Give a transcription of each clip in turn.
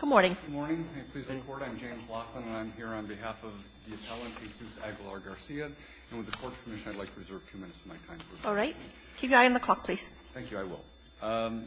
on behalf of the appellant Jesus Aguilar-Garcia. And with the Court's permission, I'd like to reserve two minutes of my time for that. All right. Keep your eye on the clock, please. Thank you. I will.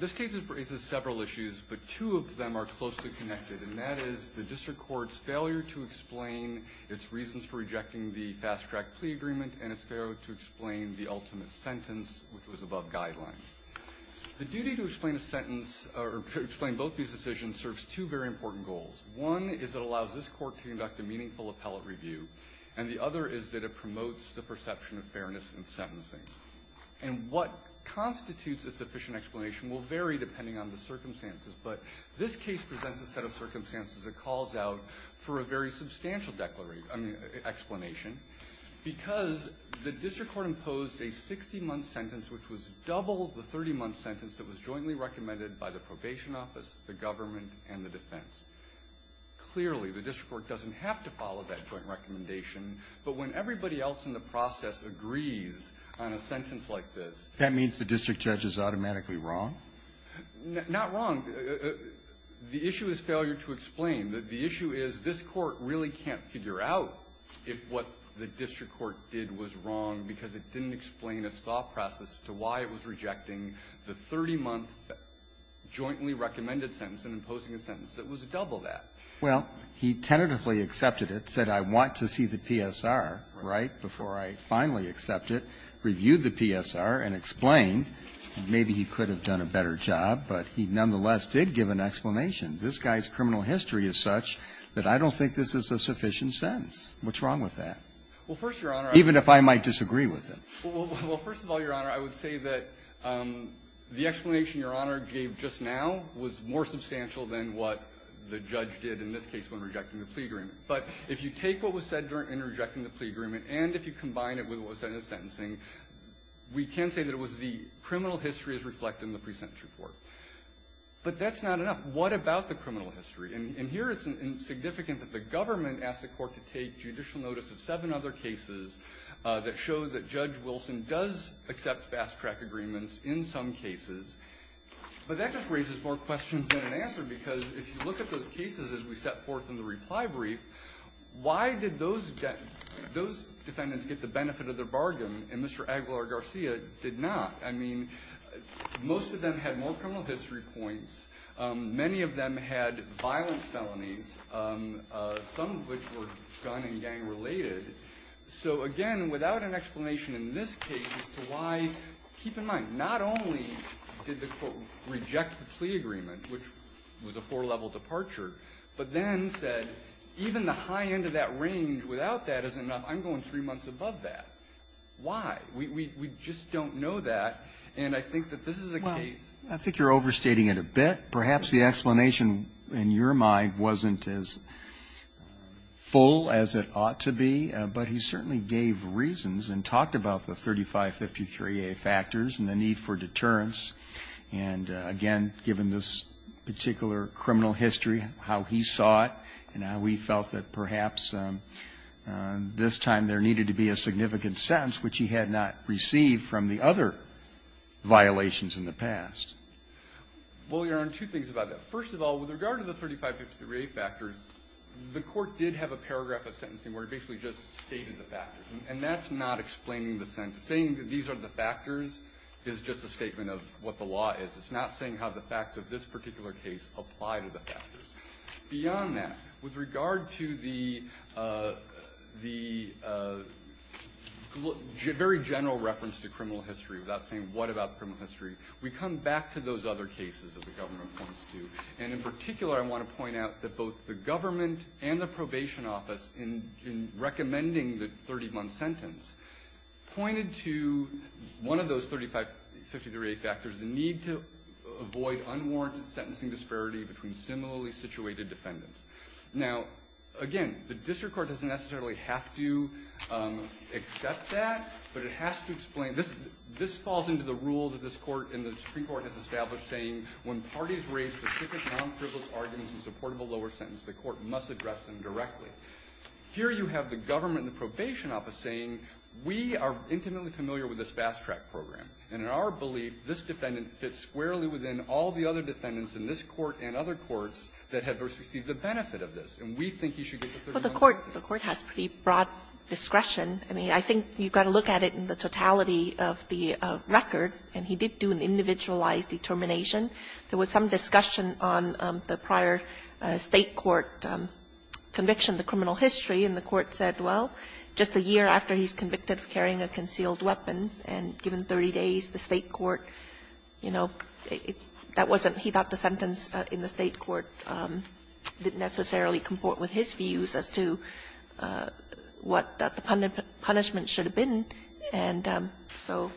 This case raises several issues, but two of them are closely connected, and that is the district court's failure to explain its reasons for rejecting the fast-track plea agreement and its failure to explain the ultimate sentence, which was above guidelines. The duty to explain a sentence or to explain both these decisions serves two very important goals. One is it allows this Court to conduct a meaningful appellate review, and the other is that it promotes the perception of fairness in sentencing. And what constitutes a sufficient explanation will vary depending on the circumstances, but this case presents a set of circumstances that calls out for a very substantial declaration – I mean, explanation, because the district court imposed a 60-month sentence, which was double the 30-month sentence that was jointly recommended by the probation office, the government, and the defense. Clearly, the district court doesn't have to follow that joint recommendation, but when everybody else in the process agrees on a sentence like this… That means the district judge is automatically wrong? Not wrong. The issue is failure to explain. The issue is this Court really can't figure out if what the district court did was wrong because it didn't explain a soft process as to why it was rejecting the 30-month jointly recommended sentence and imposing a sentence that was double that. Well, he tentatively accepted it, said, I want to see the PSR, right, before I finally accept it, reviewed the PSR and explained. Maybe he could have done a better job, but he nonetheless did give an explanation. This guy's criminal history is such that I don't think this is a sufficient sentence. What's wrong with that? Well, first, Your Honor, I… I disagree with him. Well, first of all, Your Honor, I would say that the explanation Your Honor gave just now was more substantial than what the judge did in this case when rejecting the plea agreement. But if you take what was said in rejecting the plea agreement and if you combine it with what was said in the sentencing, we can say that it was the criminal history as reflected in the pre-sentence report. But that's not enough. What about the criminal history? And here it's significant that the government asked the Court to take judicial notice of seven other cases that show that Judge Wilson does accept fast-track agreements in some cases. But that just raises more questions than an answer because if you look at those cases as we set forth in the reply brief, why did those defendants get the benefit of their bargain and Mr. Aguilar-Garcia did not? I mean, most of them had more criminal history points. Many of them had violent felonies, some of which were gun and gang related. So, again, without an explanation in this case as to why, keep in mind, not only did the Court reject the plea agreement, which was a four-level departure, but then said even the high end of that range without that is enough. I'm going three months above that. Why? We just don't know that. And I think that this is a case. I think you're overstating it a bit. Perhaps the explanation in your mind wasn't as full as it ought to be, but he certainly gave reasons and talked about the 3553A factors and the need for deterrence. And, again, given this particular criminal history, how he saw it, and how he felt that perhaps this time there needed to be a significant sentence, which he had not had violations in the past. Well, Your Honor, two things about that. First of all, with regard to the 3553A factors, the Court did have a paragraph of sentencing where it basically just stated the factors. And that's not explaining the sentence. Saying that these are the factors is just a statement of what the law is. It's not saying how the facts of this particular case apply to the factors. Beyond that, with regard to the very general reference to criminal history, without saying what about criminal history, we come back to those other cases that the Governor points to. And, in particular, I want to point out that both the government and the probation office, in recommending the 30-month sentence, pointed to one of those 3553A factors, the need to avoid unwarranted sentencing disparity between similarly situated defendants. Now, again, the district court doesn't necessarily have to accept that, but it has to explain. This falls into the rule that this Court and the Supreme Court has established, saying when parties raise specific non-frivolous arguments in support of a lower sentence, the Court must address them directly. Here you have the government and the probation office saying, we are intimately familiar with this fast-track program, and in our belief, this defendant fits squarely within all the other defendants in this Court and other courts that have received the benefit of this, and we think you should get the 30-month sentence. The Court has pretty broad discretion. I mean, I think you've got to look at it in the totality of the record, and he did do an individualized determination. There was some discussion on the prior State court conviction, the criminal history, and the Court said, well, just a year after he's convicted of carrying a concealed weapon and given 30 days, the State court, you know, that wasn't he thought the sentence in the State court didn't necessarily comport with his views as to what the punishment should have been, and so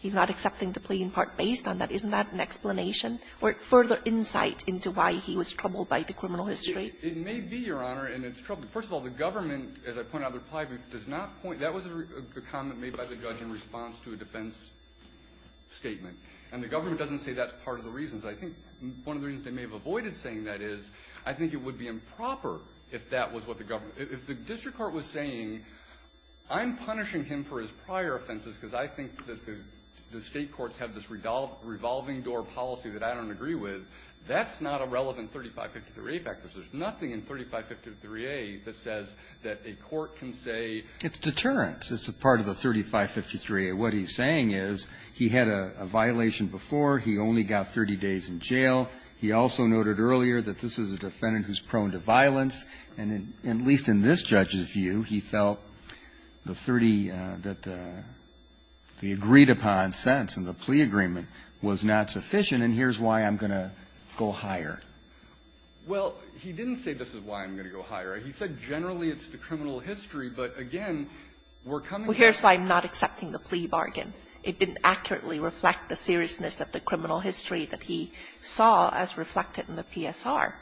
he's not accepting the plea in part based on that. Isn't that an explanation or further insight into why he was troubled by the criminal history? It may be, Your Honor, and it's troubling. First of all, the government, as I pointed out in the reply brief, does not point to that. That was a comment made by the judge in response to a defense statement. And the government doesn't say that's part of the reasons. I think one of the reasons they may have avoided saying that is I think it would be improper if that was what the government – if the district court was saying, I'm punishing him for his prior offenses because I think that the State courts have this revolving-door policy that I don't agree with, that's not a relevant 3553A factor. There's nothing in 3553A that says that a court can say it's a deterrent. It's a part of the 3553A. And what he's saying is he had a violation before. He only got 30 days in jail. He also noted earlier that this is a defendant who's prone to violence. And at least in this judge's view, he felt the 30 that the agreed-upon sentence and the plea agreement was not sufficient, and here's why I'm going to go higher. Well, he didn't say this is why I'm going to go higher. He said generally it's the criminal history, but again, we're coming back to the plea bargain. It didn't accurately reflect the seriousness of the criminal history that he saw as reflected in the PSR.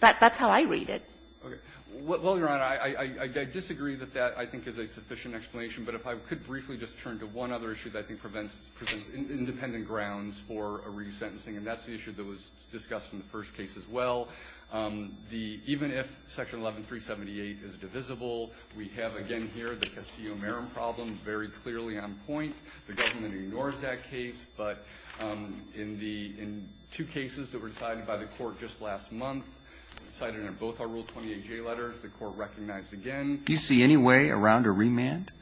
That's how I read it. Well, Your Honor, I disagree that that, I think, is a sufficient explanation. But if I could briefly just turn to one other issue that I think prevents independent grounds for a resentencing, and that's the issue that was discussed in the first case as well. The – even if Section 11378 is divisible, we have again here the Castillo-Marim problem very clearly on point. The government ignores that case, but in the – in two cases that were decided by the Court just last month, cited in both our Rule 28J letters, the Court recognized again. Do you see any way around a remand?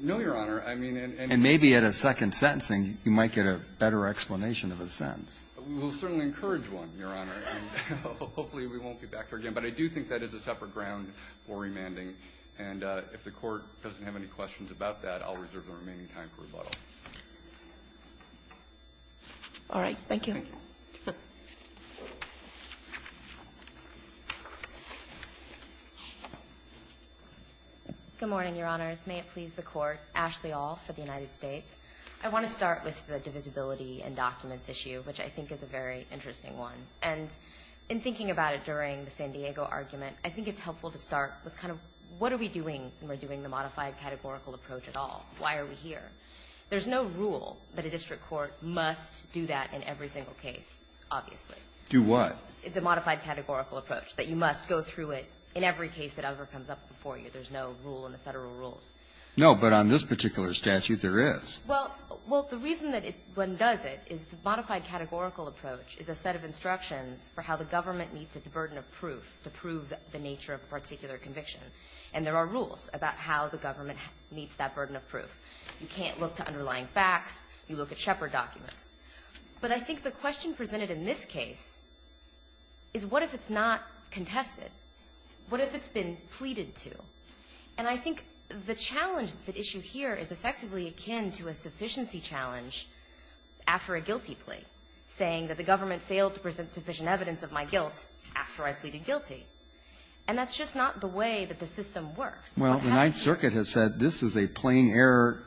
No, Your Honor. I mean, and – And maybe at a second sentencing, you might get a better explanation of a sentence. We'll certainly encourage one, Your Honor, and hopefully we won't be back here again. But I do think that is a separate ground for remanding, and if the Court doesn't have any questions about that, I'll reserve the remaining time for rebuttal. All right. Thank you. Good morning, Your Honors. May it please the Court. Ashley Aul for the United States. I want to start with the divisibility and documents issue, which I think is a very interesting one. And in thinking about it during the San Diego argument, I think it's helpful to start with kind of what are we doing when we're doing the modified categorical approach at all? Why are we here? There's no rule that a district court must do that in every single case, obviously. Do what? The modified categorical approach, that you must go through it in every case that ever comes up before you. There's no rule in the Federal rules. No, but on this particular statute, there is. for how the government meets its burden of proof to prove the nature of a particular conviction. And there are rules about how the government meets that burden of proof. You can't look to underlying facts. You look at Shepard documents. But I think the question presented in this case is what if it's not contested? What if it's been pleaded to? And I think the challenge that's at issue here is effectively akin to a sufficiency challenge after a guilty plea, saying that the government failed to present sufficient evidence of my guilt after I pleaded guilty. And that's just not the way that the system works. Well, the Ninth Circuit has said this is a plain error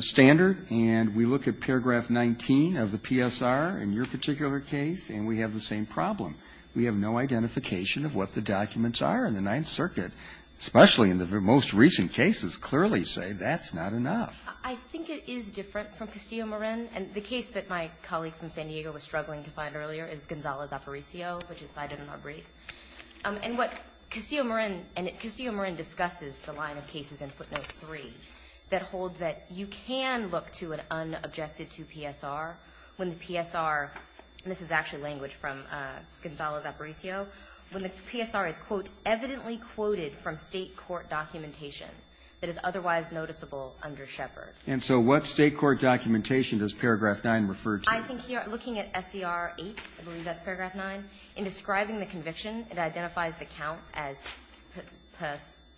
standard. And we look at paragraph 19 of the PSR in your particular case, and we have the same problem. We have no identification of what the documents are in the Ninth Circuit, especially in the most recent cases, clearly say that's not enough. I think it is different from Castillo-Morin. And the case that my colleague from San Diego was struggling to find earlier is Gonzales-Aparicio, which is cited in our brief. And what Castillo-Morin, and Castillo-Morin discusses the line of cases in footnote 3 that hold that you can look to an unobjected to PSR when the PSR, and this is actually language from Gonzales-Aparicio, when the PSR is, quote, evidently quoted from state court documentation that is otherwise noticeable under Shepard. And so what state court documentation does paragraph 9 refer to? I think here, looking at SCR 8, I believe that's paragraph 9, in describing the conviction, it identifies the count as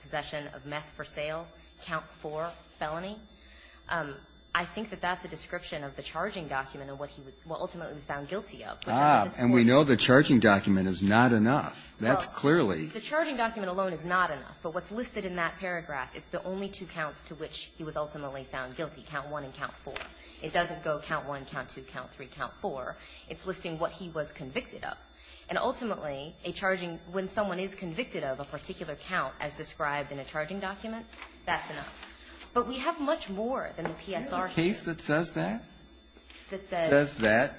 possession of meth for sale, count 4, felony. I think that that's a description of the charging document of what he would ultimately was found guilty of. And we know the charging document is not enough. That's clearly. The charging document alone is not enough. But what's listed in that paragraph is the only two counts to which he was ultimately found guilty, count 1 and count 4. It doesn't go count 1, count 2, count 3, count 4. It's listing what he was convicted of. And ultimately, a charging, when someone is convicted of a particular count as described in a charging document, that's enough. But we have much more than the PSR case. Breyer. Is there a case that says that? That says that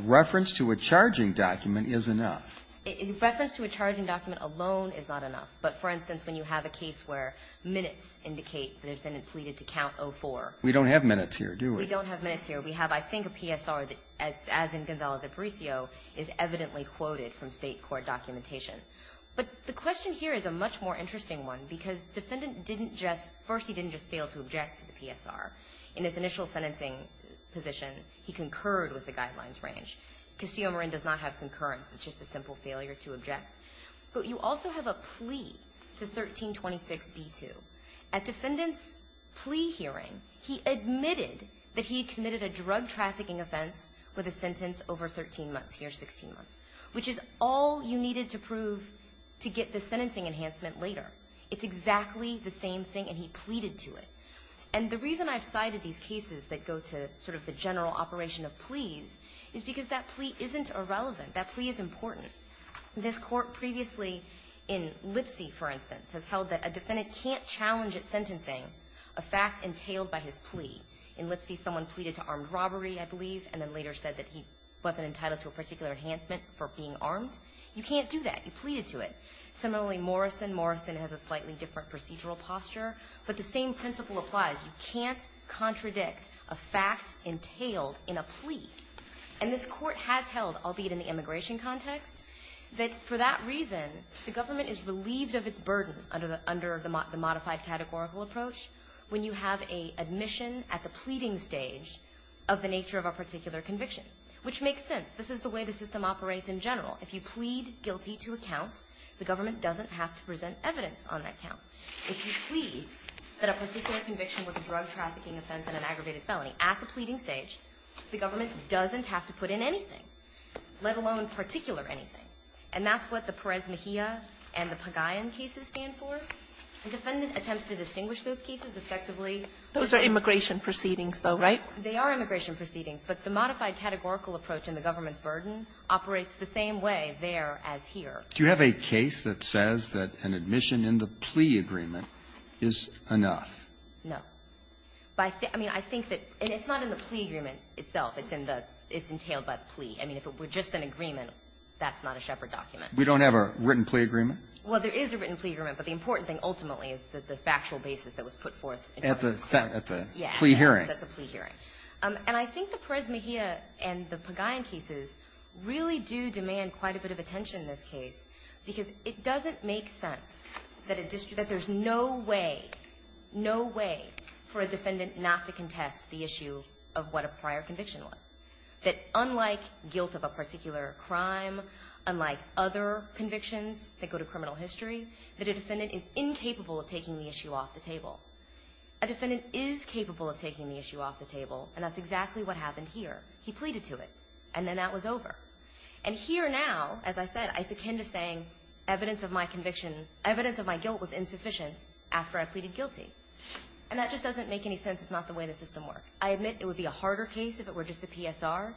reference to a charging document is enough. In reference to a charging document alone is not enough. But, for instance, when you have a case where minutes indicate that a defendant pleaded to count 04. We don't have minutes here, do we? We don't have minutes here. We have, I think, a PSR that, as in Gonzales-Aparicio, is evidently quoted from State court documentation. But the question here is a much more interesting one, because the defendant didn't just, first, he didn't just fail to object to the PSR. In his initial sentencing position, he concurred with the guidelines range. Castillo-Marin does not have concurrence. It's just a simple failure to object. But you also have a plea to 1326b2. At defendant's plea hearing, he admitted that he had committed a drug trafficking offense with a sentence over 13 months. Here's 16 months. Which is all you needed to prove to get the sentencing enhancement later. It's exactly the same thing, and he pleaded to it. And the reason I've cited these cases that go to sort of the general operation of pleas is because that plea isn't irrelevant. That plea is important. This Court previously, in Lipsy, for instance, has held that a defendant can't challenge at sentencing a fact entailed by his plea. In Lipsy, someone pleaded to armed robbery, I believe, and then later said that he wasn't entitled to a particular enhancement for being armed. You can't do that. You pleaded to it. Similarly, Morrison. Morrison has a slightly different procedural posture. But the same principle applies. You can't contradict a fact entailed in a plea. And this Court has held, albeit in the immigration context, that for that reason, the government is relieved of its burden under the modified categorical approach when you have a admission at the pleading stage of the nature of a particular conviction, which makes sense. This is the way the system operates in general. If you plead guilty to a count, the government doesn't have to present evidence on that count. If you plead that a particular conviction was a drug trafficking offense and an It doesn't have to put in anything, let alone particular anything. And that's what the Perez-Mejia and the Pagayan cases stand for. A defendant attempts to distinguish those cases effectively. Those are immigration proceedings, though, right? They are immigration proceedings. But the modified categorical approach and the government's burden operates the same way there as here. Do you have a case that says that an admission in the plea agreement is enough? No. I mean, I think that – and it's not in the plea agreement itself. It's in the – it's entailed by the plea. I mean, if it were just an agreement, that's not a Shepard document. We don't have a written plea agreement? Well, there is a written plea agreement, but the important thing, ultimately, is the factual basis that was put forth. At the plea hearing. At the plea hearing. And I think the Perez-Mejia and the Pagayan cases really do demand quite a bit of attention in this case, because it doesn't make sense that a district – that there's no way, no way for a defendant not to contest the issue of what a prior conviction was. That unlike guilt of a particular crime, unlike other convictions that go to criminal history, that a defendant is incapable of taking the issue off the table. A defendant is capable of taking the issue off the table, and that's exactly what happened here. He pleaded to it, and then that was over. And here now, as I said, it's akin to saying evidence of my conviction – evidence of my guilt was insufficient after I pleaded guilty. And that just doesn't make any sense. It's not the way the system works. I admit it would be a harder case if it were just the PSR.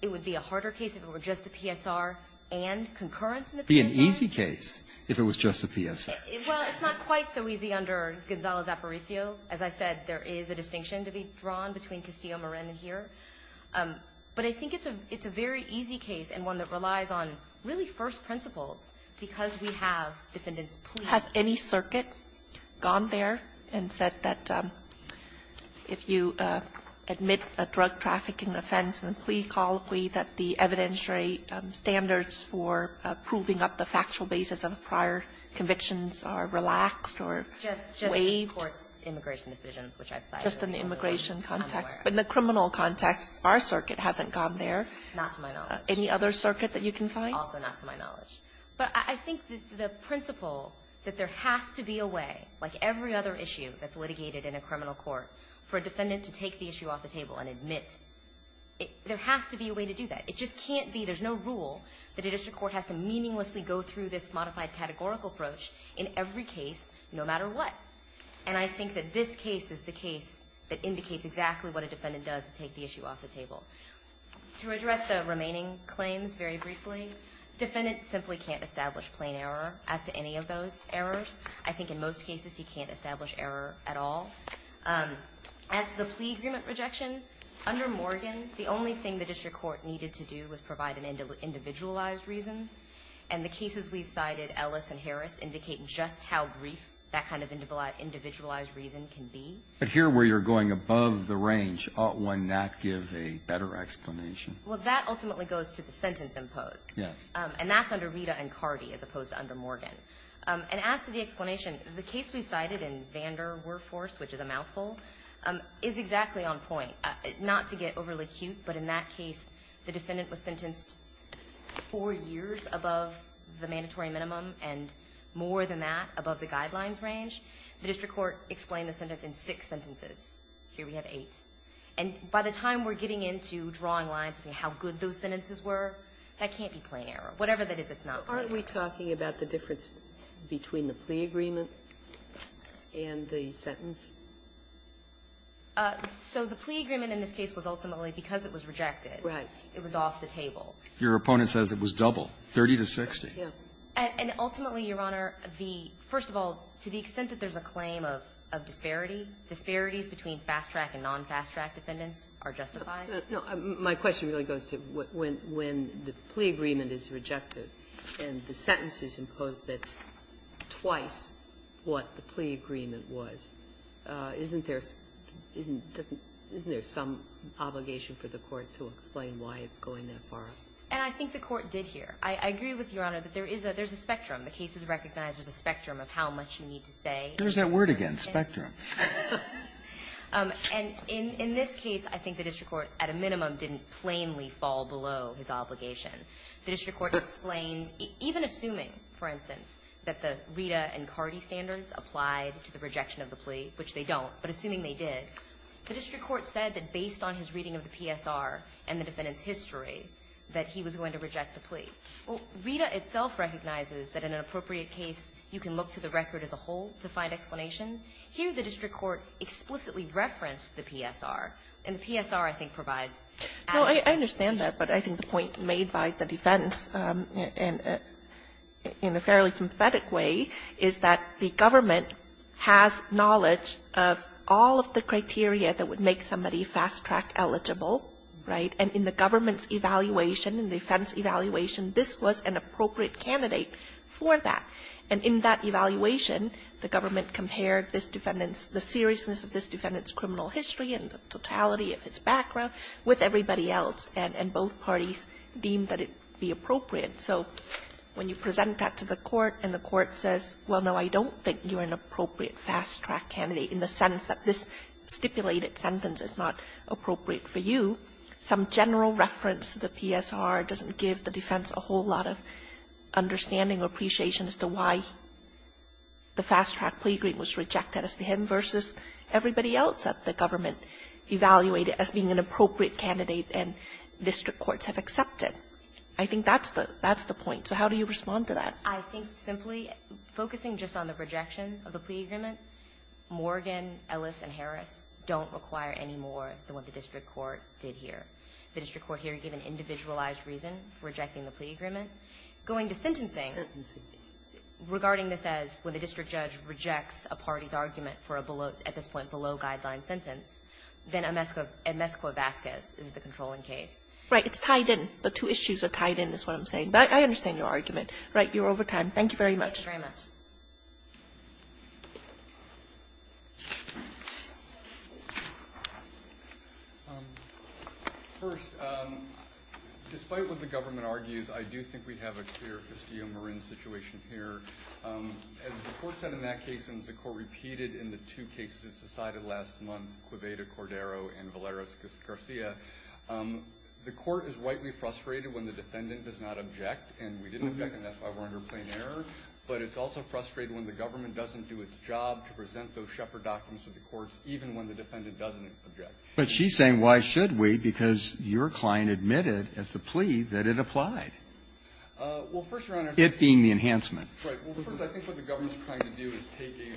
It would be a harder case if it were just the PSR and concurrence in the PSR. It would be an easy case if it was just the PSR. Well, it's not quite so easy under Gonzalo Zaporizio. As I said, there is a distinction to be drawn between Castillo-Marin and here. But I think it's a very easy case and one that relies on really first principles because we have defendants plead. Has any circuit gone there and said that if you admit a drug-trafficking offense and plea colloquy that the evidentiary standards for proving up the factual basis of prior convictions are relaxed or waived? Just in the immigration decisions, which I've cited. Just in the immigration context. But in the criminal context, our circuit hasn't gone there. Not to my knowledge. Any other circuit that you can find? Also not to my knowledge. But I think that the principle that there has to be a way, like every other issue that's litigated in a criminal court, for a defendant to take the issue off the table and admit, there has to be a way to do that. It just can't be. There's no rule that a district court has to meaninglessly go through this modified categorical approach in every case, no matter what. And I think that this case is the case that indicates exactly what a defendant does to take the issue off the table. To address the remaining claims very briefly, defendants simply can't establish plain error as to any of those errors. I think in most cases, he can't establish error at all. As to the plea agreement rejection, under Morgan, the only thing the district court needed to do was provide an individualized reason. And the cases we've cited, Ellis and Harris, indicate just how brief that kind of individualized reason can be. But here, where you're going above the range, ought one not give a better explanation? Well, that ultimately goes to the sentence imposed. Yes. And that's under Rita and Cardi, as opposed to under Morgan. And as to the explanation, the case we've cited in Vanderwerfhorst, which is a mouthful, is exactly on point. Not to get overly cute, but in that case, the defendant was sentenced four years above the mandatory minimum, and more than that, above the guidelines range. The district court explained the sentence in six sentences. Here we have eight. And by the time we're getting into drawing lines between how good those sentences were, that can't be plain error. Whatever that is, it's not. Aren't we talking about the difference between the plea agreement and the sentence? So the plea agreement in this case was ultimately because it was rejected. Right. It was off the table. Your opponent says it was double, 30 to 60. Yeah. And ultimately, Your Honor, the — first of all, to the extent that there's a claim of disparity, disparities between fast-track and non-fast-track defendants are justified. No. My question really goes to when the plea agreement is rejected and the sentence is imposed that's twice what the plea agreement was, isn't there some obligation for the Court to explain why it's going that far? And I think the Court did here. I agree with Your Honor that there is a — there's a spectrum. The case is recognized as a spectrum of how much you need to say. There's that word again, spectrum. And in this case, I think the district court, at a minimum, didn't plainly fall below his obligation. The district court explained, even assuming, for instance, that the Rita and Cardi standards applied to the rejection of the plea, which they don't, but assuming they did, the district court said that based on his reading of the PSR and the defendant's plea. Well, Rita itself recognizes that in an appropriate case, you can look to the record as a whole to find explanation. Here, the district court explicitly referenced the PSR, and the PSR, I think, provides adequate explanation. No, I understand that, but I think the point made by the defense in a fairly sympathetic way is that the government has knowledge of all of the criteria that would make somebody fast-track eligible, right? And in the government's evaluation, in the defense evaluation, this was an appropriate candidate for that. And in that evaluation, the government compared this defendant's, the seriousness of this defendant's criminal history and the totality of his background with everybody else, and both parties deemed that it would be appropriate. So when you present that to the court and the court says, well, no, I don't think you're an appropriate fast-track candidate in the sense that this stipulated sentence is not appropriate for you, some general reference to the PSR doesn't give the defense a whole lot of understanding or appreciation as to why the fast-track plea agreement was rejected as the hidden versus everybody else that the government evaluated as being an appropriate candidate and district courts have accepted. I think that's the point. So how do you respond to that? I think simply focusing just on the rejection of the plea agreement, Morgan, Ellis, and Harris don't require any more than what the district court did here. The district court here gave an individualized reason for rejecting the plea agreement. Going to sentencing, regarding this as when the district judge rejects a party's argument for a below, at this point, below-guideline sentence, then Amescuo-Vazquez is the controlling case. Right. It's tied in. The two issues are tied in is what I'm saying. But I understand your argument. Right. You're over time. Thank you very much. Thank you very much. First, despite what the government argues, I do think we have a clear Castillo-Marin situation here. As the court said in that case and as the court repeated in the two cases it decided last month, Cueveda, Cordero, and Valeros-Garcia, the court is rightly frustrated when the defendant does not object. And we didn't object, and that's why we're under plain error. But it's also frustrated when the government doesn't do its job to present those Shepherd documents to the courts, even when the defendant doesn't object. But she's saying, why should we? Because your client admitted at the plea that it applied. Well, first, Your Honor. It being the enhancement. Right. Well, first, I think what the government is trying to do is taking,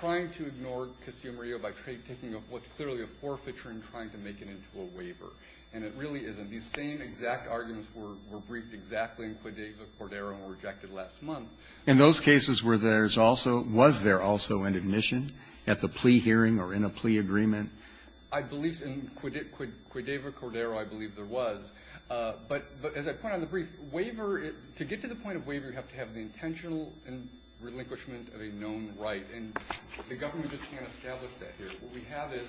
trying to ignore Castillo-Marin by taking what's clearly a forfeiture and trying to make it into a waiver. And it really isn't. These same exact arguments were, were briefed exactly in Cueveda, Cordero, and were rejected last month. In those cases, were there also, was there also an admission at the plea hearing or in a plea agreement? I believe in Cueveda, Cordero, I believe there was. But as I put on the brief, waiver, to get to the point of waiver, you have to have the intentional relinquishment of a known right. And the government just can't establish that here. So what we have is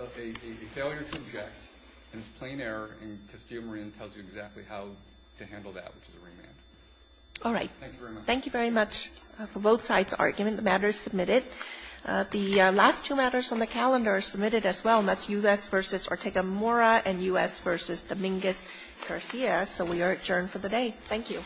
a failure to object, and it's plain error, and Castillo-Marin tells you exactly how to handle that, which is a remand. All right. Thank you very much. Thank you very much for both sides' argument. The matter is submitted. The last two matters on the calendar are submitted as well, and that's U.S. v. Ortega-Mora and U.S. v. Dominguez-Garcia. So we are adjourned for the day. Thank you.